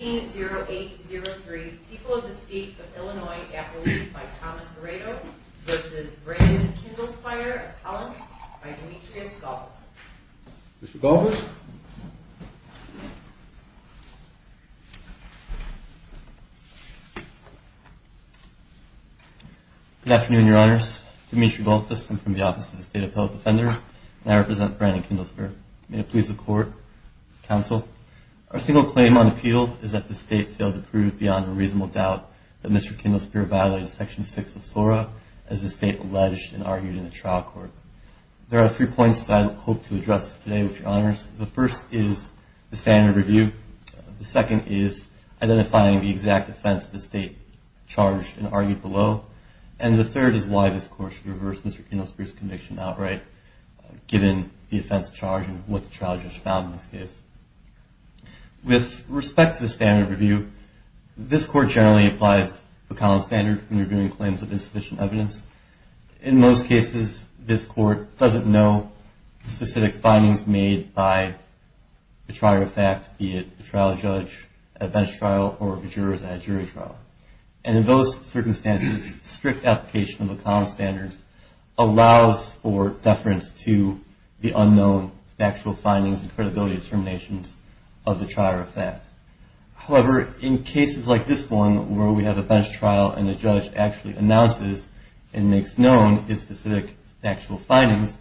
18-0803, People of the State of Illinois, Appalooh, by Thomas Moreto v. Brandon Kindelspire, Appellant, by Demetrius Gullfuss. Mr. Gullfuss? Good afternoon, Your Honors. Demetrius Gullfuss. I'm from the Office of the State Appellate Defender, and I represent Brandon Kindelspire. May it please the Court, Counsel. Our single claim on appeal is that the State failed to prove beyond a reasonable doubt that Mr. Kindelspire violated Section 6 of SORA as the State alleged and argued in a trial court. There are three points that I hope to address today, Your Honors. The first is the standard review. The second is identifying the exact offense the State charged and argued below. And the third is why this Court should reverse Mr. Kindelspire's conviction outright, given the offense charged and what the trial judge found in this case. With respect to the standard review, this Court generally applies the common standard in reviewing claims of insufficient evidence. In most cases, this Court doesn't know the specific findings made by the trier of fact, be it the trial judge at a bench trial or the jurors at a jury trial. And in those circumstances, strict application of the common standard allows for deference to the unknown factual findings and credibility determinations of the trier of fact. However, in cases like this one, where we have a bench trial and the judge actually announces and makes known his specific factual findings,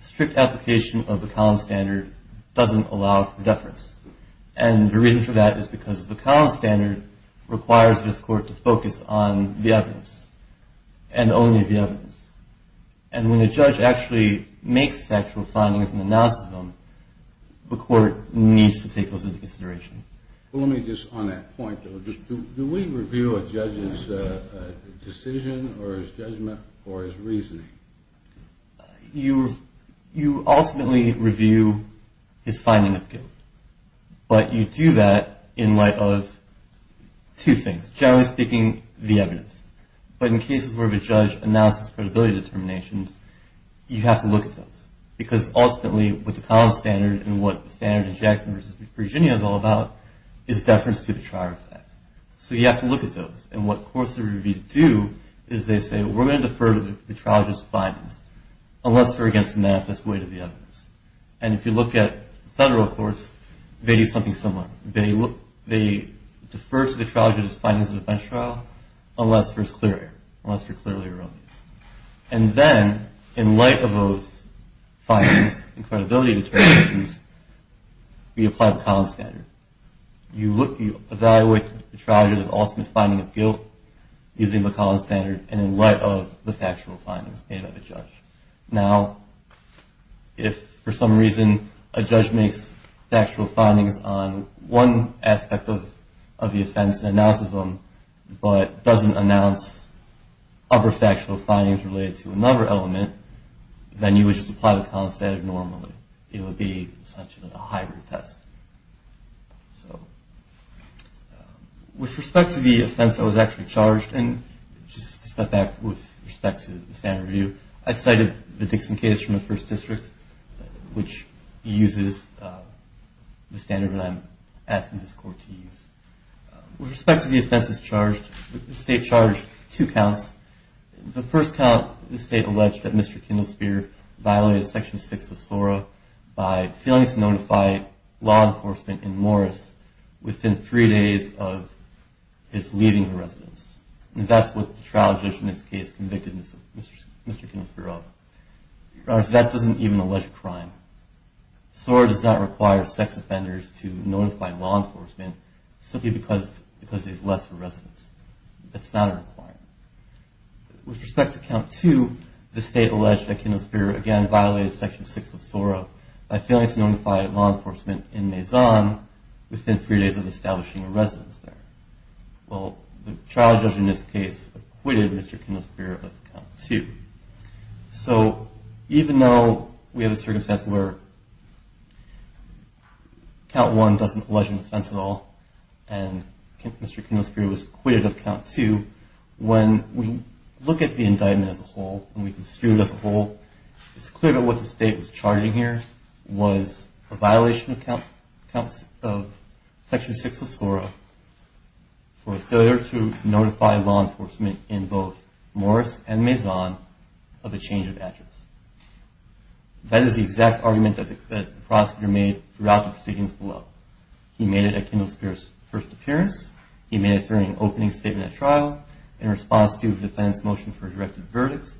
strict application of the common standard doesn't allow for deference. And the reason for that is because the common standard requires this Court to focus on the evidence and only the evidence. And when a judge actually makes factual findings and announces them, the Court needs to take those into consideration. Well, let me just, on that point, do we review a judge's decision or his judgment or his reasoning? You ultimately review his finding of guilt. But you do that in light of two things. Generally speaking, the evidence. But in cases where the judge announces credibility determinations, you have to look at those. Because ultimately, what the common standard and what the standard in Jackson v. Virginia is all about is deference to the trier of fact. So you have to look at those. And what courts are going to do is they say, we're going to defer to the trial judge's findings unless they're against the manifest weight of the evidence. And if you look at federal courts, they do something similar. They defer to the trial judge's findings of the bench trial unless there's clear error, unless they're clearly erroneous. And then, in light of those findings and credibility determinations, we apply the common standard. You evaluate the trial judge's ultimate finding of guilt using the common standard and in light of the factual findings made by the judge. Now, if for some reason a judge makes factual findings on one aspect of the offense and announces them, but doesn't announce other factual findings related to another element, then you would just apply the common standard normally. It would be essentially a hybrid test. With respect to the offense that was actually charged, and just to step back with respect to the standard review, I cited the Dixon case from the first district, which uses the standard that I'm asking this court to use. With respect to the offenses charged, the state charged two counts. The first count, the state alleged that Mr. Kindlesphere violated Section 6 of SORA by failing to notify law enforcement in Morris within three days of his leaving the residence. And that's what the trial judge in this case convicted Mr. Kindlesphere of. In other words, that doesn't even allege a crime. SORA does not require sex offenders to notify law enforcement simply because they've left the residence. That's not a requirement. With respect to Count 2, the state alleged that Kindlesphere again violated Section 6 of SORA by failing to notify law enforcement in Maison within three days of establishing a residence there. Well, the trial judge in this case acquitted Mr. Kindlesphere of Count 2. So even though we have a circumstance where Count 1 doesn't allege an offense at all and Mr. Kindlesphere was acquitted of Count 2, when we look at the indictment as a whole, when we consider this whole, it's clear that what the state was charging here was a violation of Section 6 of SORA for failure to notify law enforcement in both Morris and Maison of a change of address. That is the exact argument that the prosecutor made throughout the proceedings below. He made it at Kindlesphere's first appearance. He made it during an opening statement at trial, in response to a defense motion for a directed verdict,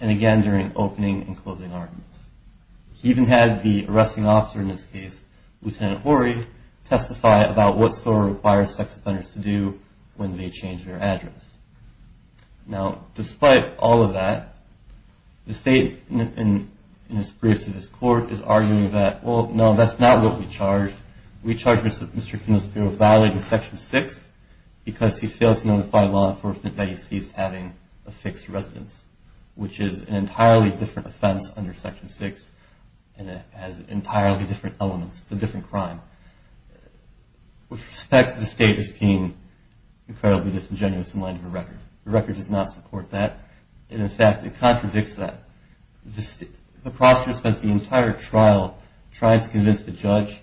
and again during opening and closing arguments. He even had the arresting officer in this case, Lieutenant Horry, testify about what SORA requires sex offenders to do when they change their address. Now, despite all of that, the state in its briefs to this court is arguing that, well, no, that's not what we charged. We charged Mr. Kindlesphere of violating Section 6 because he failed to notify law enforcement that he ceased having a fixed residence, which is an entirely different offense under Section 6, and it has entirely different elements. It's a different crime. With respect, the state is being incredibly disingenuous in light of the record. The record does not support that, and in fact, it contradicts that. The prosecutor spent the entire trial trying to convince the judge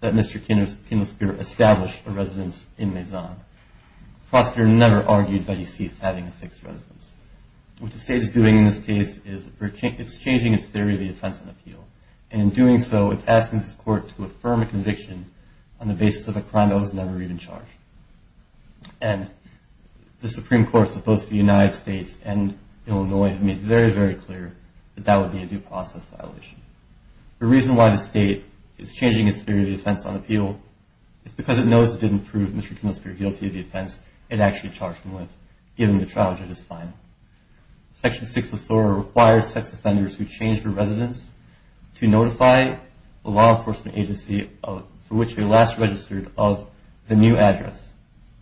that Mr. Kindlesphere established a residence in Maison. The prosecutor never argued that he ceased having a fixed residence. What the state is doing in this case is it's changing its theory of the offense and appeal, and in doing so, it's asking this court to affirm a conviction on the basis of a crime that was never even charged. And the Supreme Court, as opposed to the United States and Illinois, have made very, very clear that that would be a due process violation. The reason why the state is changing its theory of the offense and appeal is because it knows it didn't prove Mr. Kindlesphere guilty of the offense it actually charged him with, given the trial judge's fine. Section 6 of SOAR requires sex offenders who change their residence to notify the law enforcement agency for which they last registered of the new address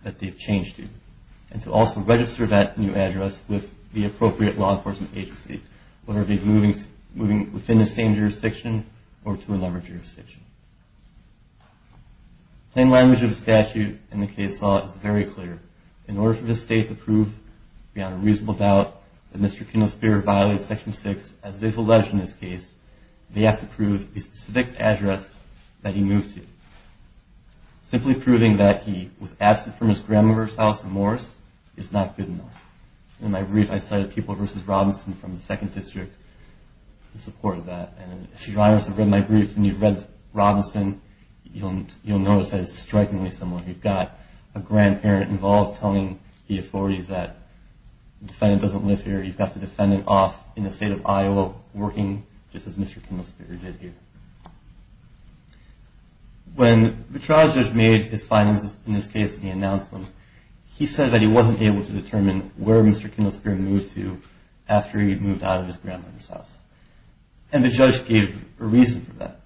that they've changed to, and to also register that new address with the appropriate law enforcement agency, whether it be moving within the same jurisdiction or to another jurisdiction. The plain language of the statute in the case law is very clear. In order for the state to prove beyond a reasonable doubt that Mr. Kindlesphere violates Section 6, as is alleged in this case, they have to prove the specific address that he moved to. Simply proving that he was absent from his grandmother's house in Morris is not good enough. In my brief, I cited people versus Robinson from the 2nd District in support of that, and if you've read my brief and you've read Robinson, you'll notice that it's strikingly similar. You've got a grandparent involved telling the authorities that the defendant doesn't live here, you've got the defendant off in the state of Iowa working just as Mr. Kindlesphere did here. When the trial judge made his findings in this case and he announced them, he said that he wasn't able to determine where Mr. Kindlesphere moved to after he moved out of his grandmother's house, and the judge gave a reason for that.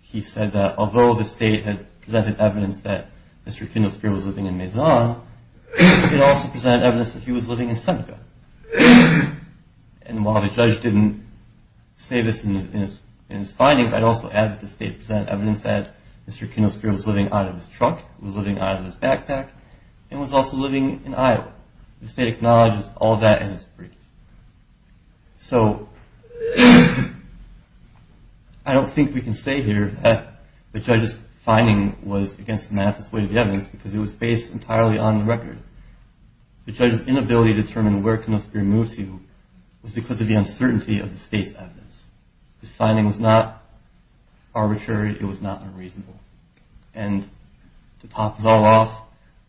He said that although the state had presented evidence that Mr. Kindlesphere was living in Mazon, it also presented evidence that he was living in Seneca. And while the judge didn't say this in his findings, I'd also add that the state presented evidence that Mr. Kindlesphere was living out of his truck, was living out of his backpack, and was also living in Iowa. The state acknowledges all that in this brief. So I don't think we can say here that the judge's finding was against the math as to the evidence because it was based entirely on the record. The judge's inability to determine where Kindlesphere moved to was because of the uncertainty of the state's evidence. This finding was not arbitrary. It was not unreasonable. And to top it all off,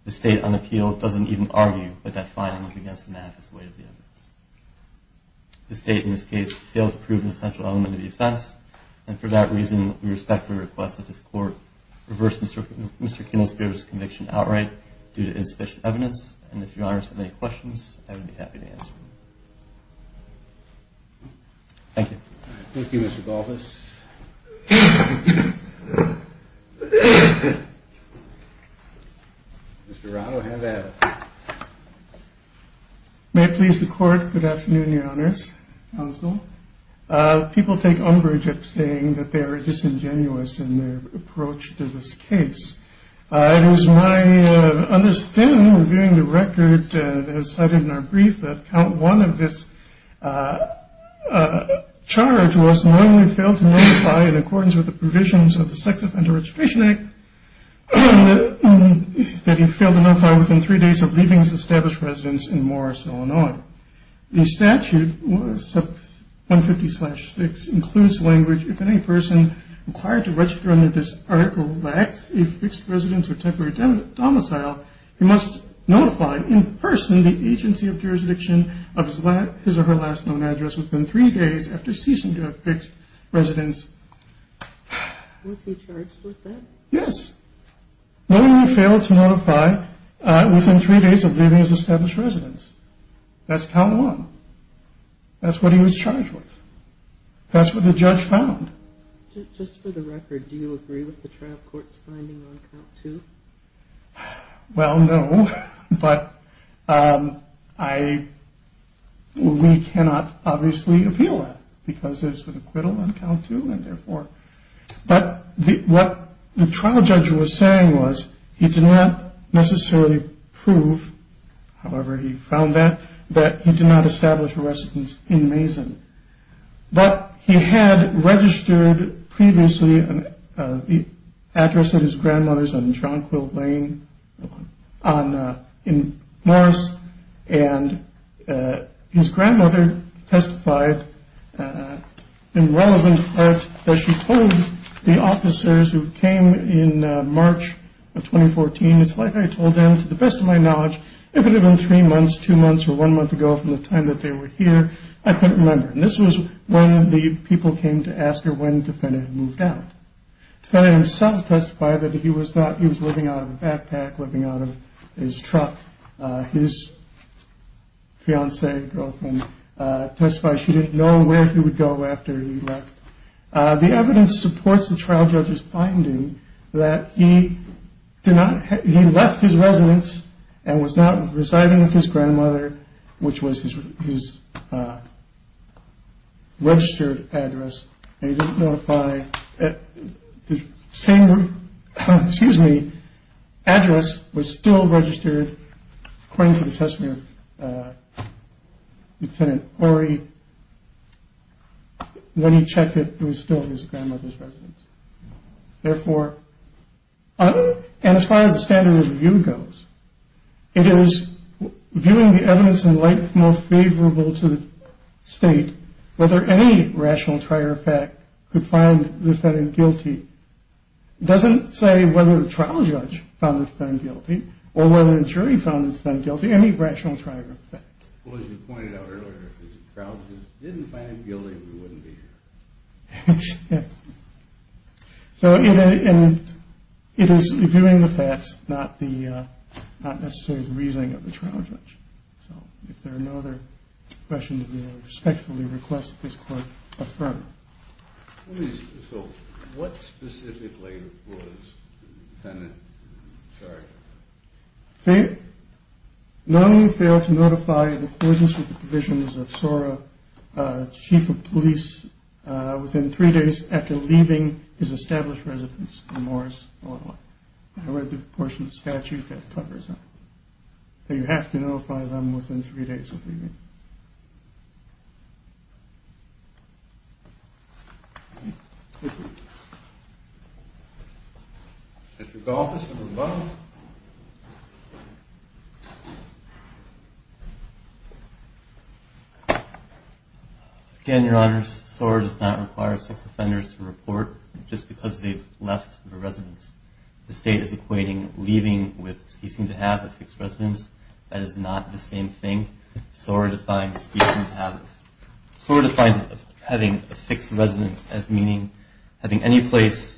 the state on appeal doesn't even argue that that finding was against the math as to the evidence. The state in this case failed to prove an essential element of the offense, and for that reason, we respectfully request that this court reverse Mr. Kindlesphere's conviction outright due to insufficient evidence. And if your honors have any questions, I would be happy to answer them. Thank you. Thank you, Mr. Balthus. Mr. Rado, hand out. May it please the court, good afternoon, your honors, counsel. People take umbrage at saying that they are disingenuous in their approach to this case. It was my understanding, reviewing the record as cited in our brief, that count one of this charge was normally failed to notify in accordance with the provisions of the Sex Offender Registration Act that he failed to notify within three days of leaving his established residence in Morris, Illinois. The statute, 150-6, includes language if any person required to register under this article lacks a fixed residence or temporary domicile, he must notify in person the agency of jurisdiction of his or her last known address within three days after ceasing to have fixed residence. Was he charged with that? Yes. Normally failed to notify within three days of leaving his established residence. That's count one. That's what he was charged with. That's what the judge found. Just for the record, do you agree with the trial court's finding on count two? Well, no, but I, we cannot obviously appeal that because there's an acquittal on count two and therefore. But what the trial judge was saying was he did not necessarily prove, however he found that, that he did not establish a residence in Mason. But he had registered previously the address of his grandmother's in John Quill Lane in Morris, and his grandmother testified in relevant fact that she told the officers who came in March of 2014, it's like I told them to the best of my knowledge, it could have been three months, two months, or one month ago from the time that they were here. I couldn't remember. And this was when the people came to ask her when Defendant had moved out. Defendant himself testified that he was not, he was living out of a backpack, living out of his truck. His fiancee, girlfriend, testified she didn't know where he would go after he left. The evidence supports the trial judge's finding that he did not, he left his residence and was not residing with his grandmother, which was his registered address. And he didn't notify, the same, excuse me, address was still registered according to the testimony of Lieutenant Horry when he checked that it was still his grandmother's residence. Therefore, and as far as the standard of review goes, it is viewing the evidence in light, more favorable to state whether any rational trier of fact could find the defendant guilty, doesn't say whether the trial judge found the defendant guilty, or whether the jury found the defendant guilty, any rational trier of fact. Well, as you pointed out earlier, if the trial judge didn't find him guilty, we wouldn't be here. That's it. So it is reviewing the facts, not necessarily the reasoning of the trial judge. So if there are no other questions, we respectfully request this court affirm. So what specifically was Lieutenant Horry? He not only failed to notify the courthouse of the provisions of SORA chief of police within three days after leaving his established residence in Morris, Illinois. I read the portion of the statute that covers that. You have to notify them within three days of leaving. Thank you. Mr. Galtas at the bottom. Again, Your Honors, SORA does not require six offenders to report just because they've left the residence. The state is equating leaving with ceasing to have a fixed residence. That is not the same thing. SORA defines having a fixed residence as meaning having any place,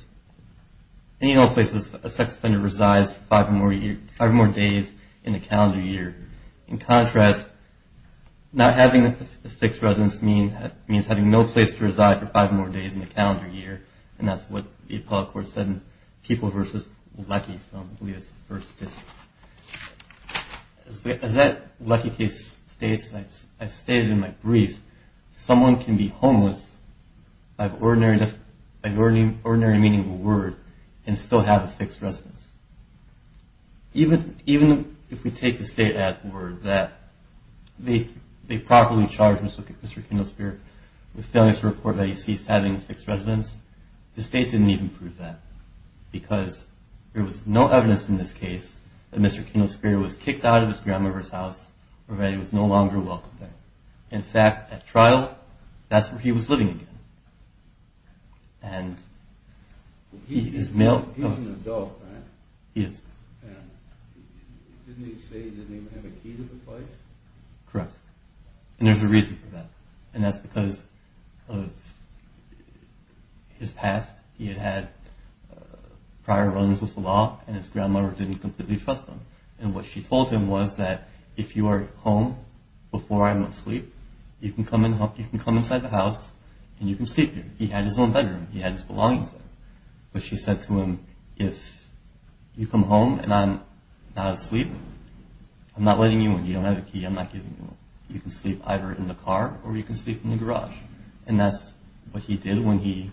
any number of places a sex offender resides for five or more days in the calendar year. In contrast, not having a fixed residence means having no place to reside for five or more days in the calendar year. And that's what the appellate court said in People v. Leckie from Lewis v. Bishop. As that Leckie case states, I stated in my brief, someone can be homeless by the ordinary meaning of the word and still have a fixed residence. Even if we take the state as the word that they properly charged Mr. Kindlesphere with failing to report that he ceased having a fixed residence, the state didn't even prove that because there was no evidence in this case that Mr. Kindlesphere was kicked out of his grandmother's house or that he was no longer welcome there. In fact, at trial, that's where he was living again. He's an adult, right? He is. Didn't he say he didn't even have a key to the place? Correct. And there's a reason for that. And that's because of his past. He had had prior runs with the law and his grandmother didn't completely trust him. And what she told him was that if you are home before I'm asleep, you can come inside the house and you can sleep here. He had his own bedroom. He had his belongings there. But she said to him, if you come home and I'm not asleep, I'm not letting you in. You don't have a key. I'm not giving you one. You can sleep either in the car or you can sleep in the garage. And that's what he did when he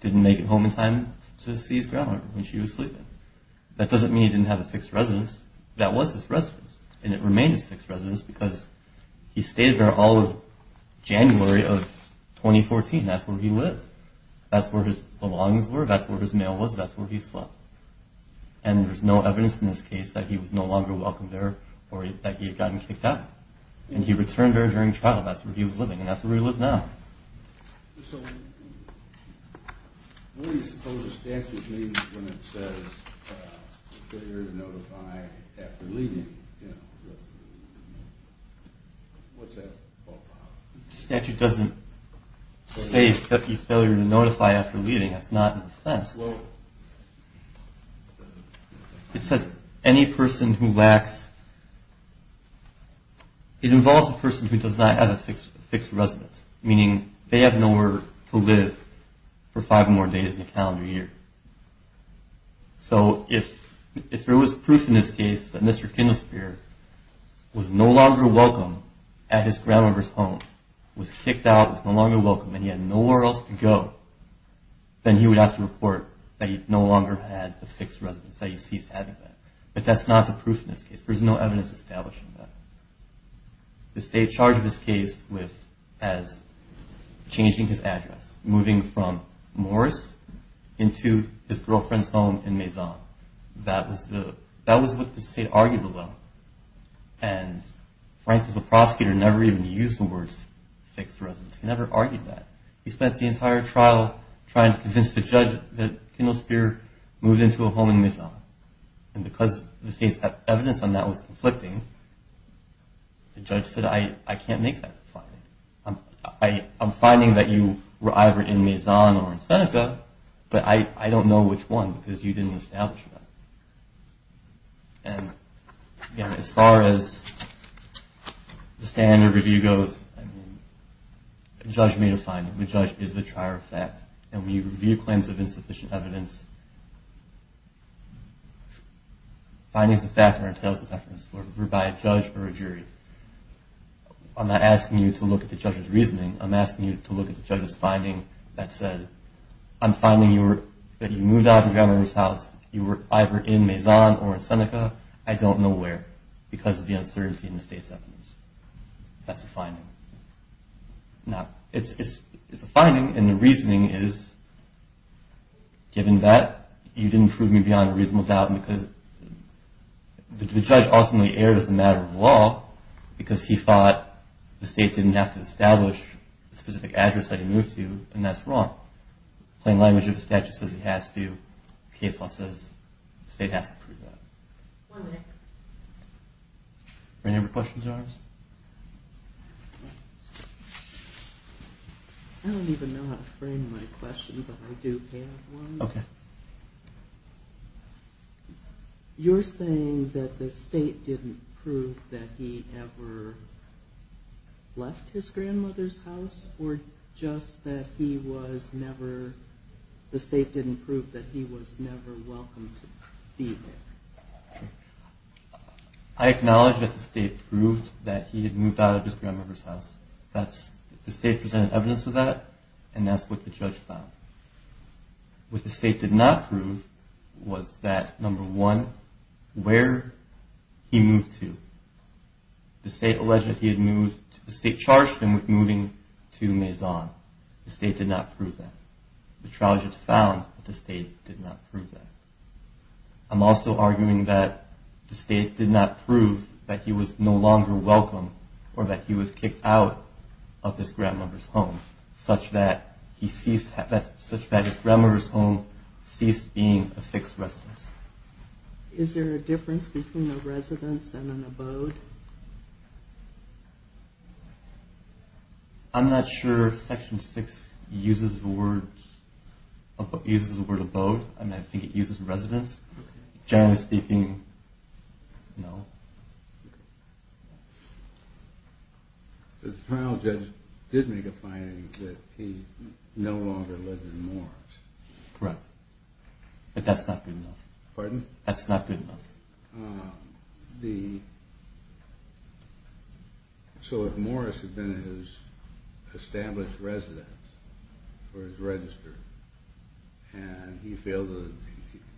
didn't make it home in time to see his grandmother when she was sleeping. That doesn't mean he didn't have a fixed residence. That was his residence. And it remained his fixed residence because he stayed there all of January of 2014. That's where he lived. That's where his belongings were. That's where his mail was. That's where he slept. And there's no evidence in this case that he was no longer welcomed there or that he had gotten kicked out. And he returned there during trial. That's where he was living. And that's where he lives now. So what do you suppose the statute means when it says failure to notify after leaving? The statute doesn't say failure to notify after leaving. That's not an offense. It says any person who lacks, it involves a person who does not have a fixed residence, meaning they have nowhere to live for five more days in a calendar year. So if there was proof in this case that Mr. Kindlesphere was no longer welcome at his grandmother's home, was kicked out, was no longer welcome, and he had nowhere else to go, then he would have to report that he no longer had a fixed residence, that he ceased having that. But that's not the proof in this case. There's no evidence establishing that. The state charged this case as changing his address, moving from Morris into his girlfriend's home in Maison. That was what the state argued about. And, frankly, the prosecutor never even used the words fixed residence. He never argued that. He spent the entire trial trying to convince the judge that Kindlesphere moved into a home in Maison. And because the state's evidence on that was conflicting, the judge said, I can't make that finding. I'm finding that you were either in Maison or in Seneca, but I don't know which one because you didn't establish that. And, again, as far as the standard review goes, I mean, the judge made a finding. The judge is the trier of fact. And when you review claims of insufficient evidence, findings of fact are entailed as evidence. We're by a judge or a jury. I'm not asking you to look at the judge's reasoning. I'm asking you to look at the judge's finding that said, I'm finding that you moved out of your grandmother's house, you were either in Maison or in Seneca, I don't know where, because of the uncertainty in the state's evidence. That's a finding. Now, it's a finding, and the reasoning is, given that, you didn't prove me beyond a reasonable doubt because the judge ultimately erred as a matter of law because he thought the state didn't have to establish the specific address that he moved to, and that's wrong. Plain language of the statute says he has to. Case law says the state has to prove that. One minute. Are there any other questions of ours? I don't even know how to frame my question, but I do have one. Okay. You're saying that the state didn't prove that he ever left his grandmother's house, or just that the state didn't prove that he was never welcome to be there? I acknowledge that the state proved that he had moved out of his grandmother's house. The state presented evidence of that, and that's what the judge found. What the state did not prove was that, number one, where he moved to. The state charged him with moving to Maison. The state did not prove that. The trial judge found that the state did not prove that. I'm also arguing that the state did not prove that he was no longer welcome or that he was kicked out of his grandmother's home, such that his grandmother's home ceased being a fixed residence. Is there a difference between a residence and an abode? I'm not sure Section 6 uses the word abode. I think it uses residence. Generally speaking, no. The trial judge did make a finding that he no longer lived in Morris. Correct. But that's not good enough. Pardon? That's not good enough. So if Morris had been his established residence, or his register, and he failed to,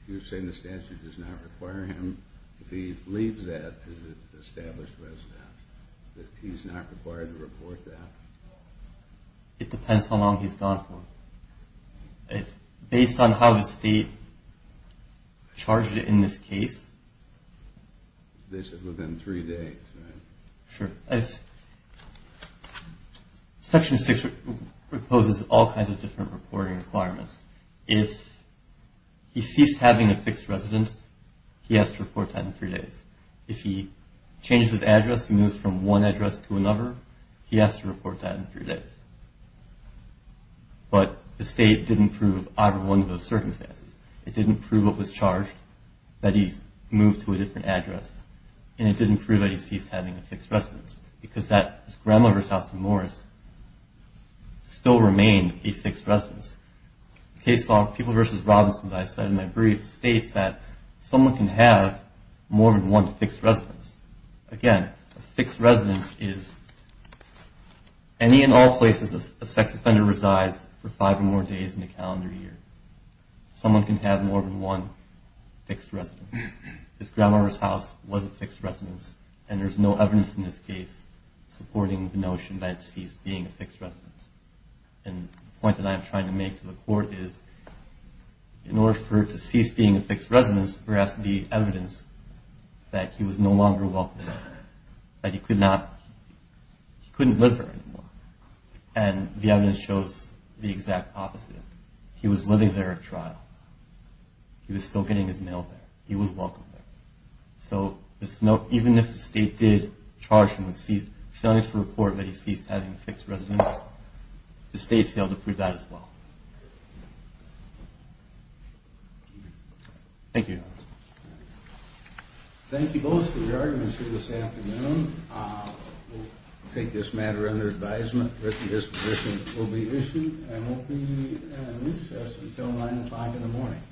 you're saying the statute does not require him, if he leaves that as an established residence, that he's not required to report that? It depends how long he's gone for. Based on how the state charged it in this case... Within three days, right? Sure. Section 6 proposes all kinds of different reporting requirements. If he ceased having a fixed residence, he has to report that in three days. If he changes his address and moves from one address to another, he has to report that in three days. But the state didn't prove either one of those circumstances. It didn't prove it was charged that he moved to a different address, and it didn't prove that he ceased having a fixed residence, because his grandmother's house in Morris still remained a fixed residence. The case law, People v. Robinson, that I cited in my brief, states that someone can have more than one fixed residence. Again, a fixed residence is any and all places a sex offender resides for five or more days in the calendar year. Someone can have more than one fixed residence. His grandmother's house was a fixed residence, and there's no evidence in this case supporting the notion that it ceased being a fixed residence. And the point that I am trying to make to the court is, in order for it to cease being a fixed residence, there has to be evidence that he was no longer welcome there, that he couldn't live there anymore. And the evidence shows the exact opposite. He was living there at trial. He was still getting his mail there. He was welcome there. So even if the state did charge him with failing to report that he ceased having a fixed residence, the state failed to prove that as well. Thank you. Thank you both for your arguments here this afternoon. We'll take this matter under advisement that the disposition will be issued and will be in recess until 9 or 5 in the morning.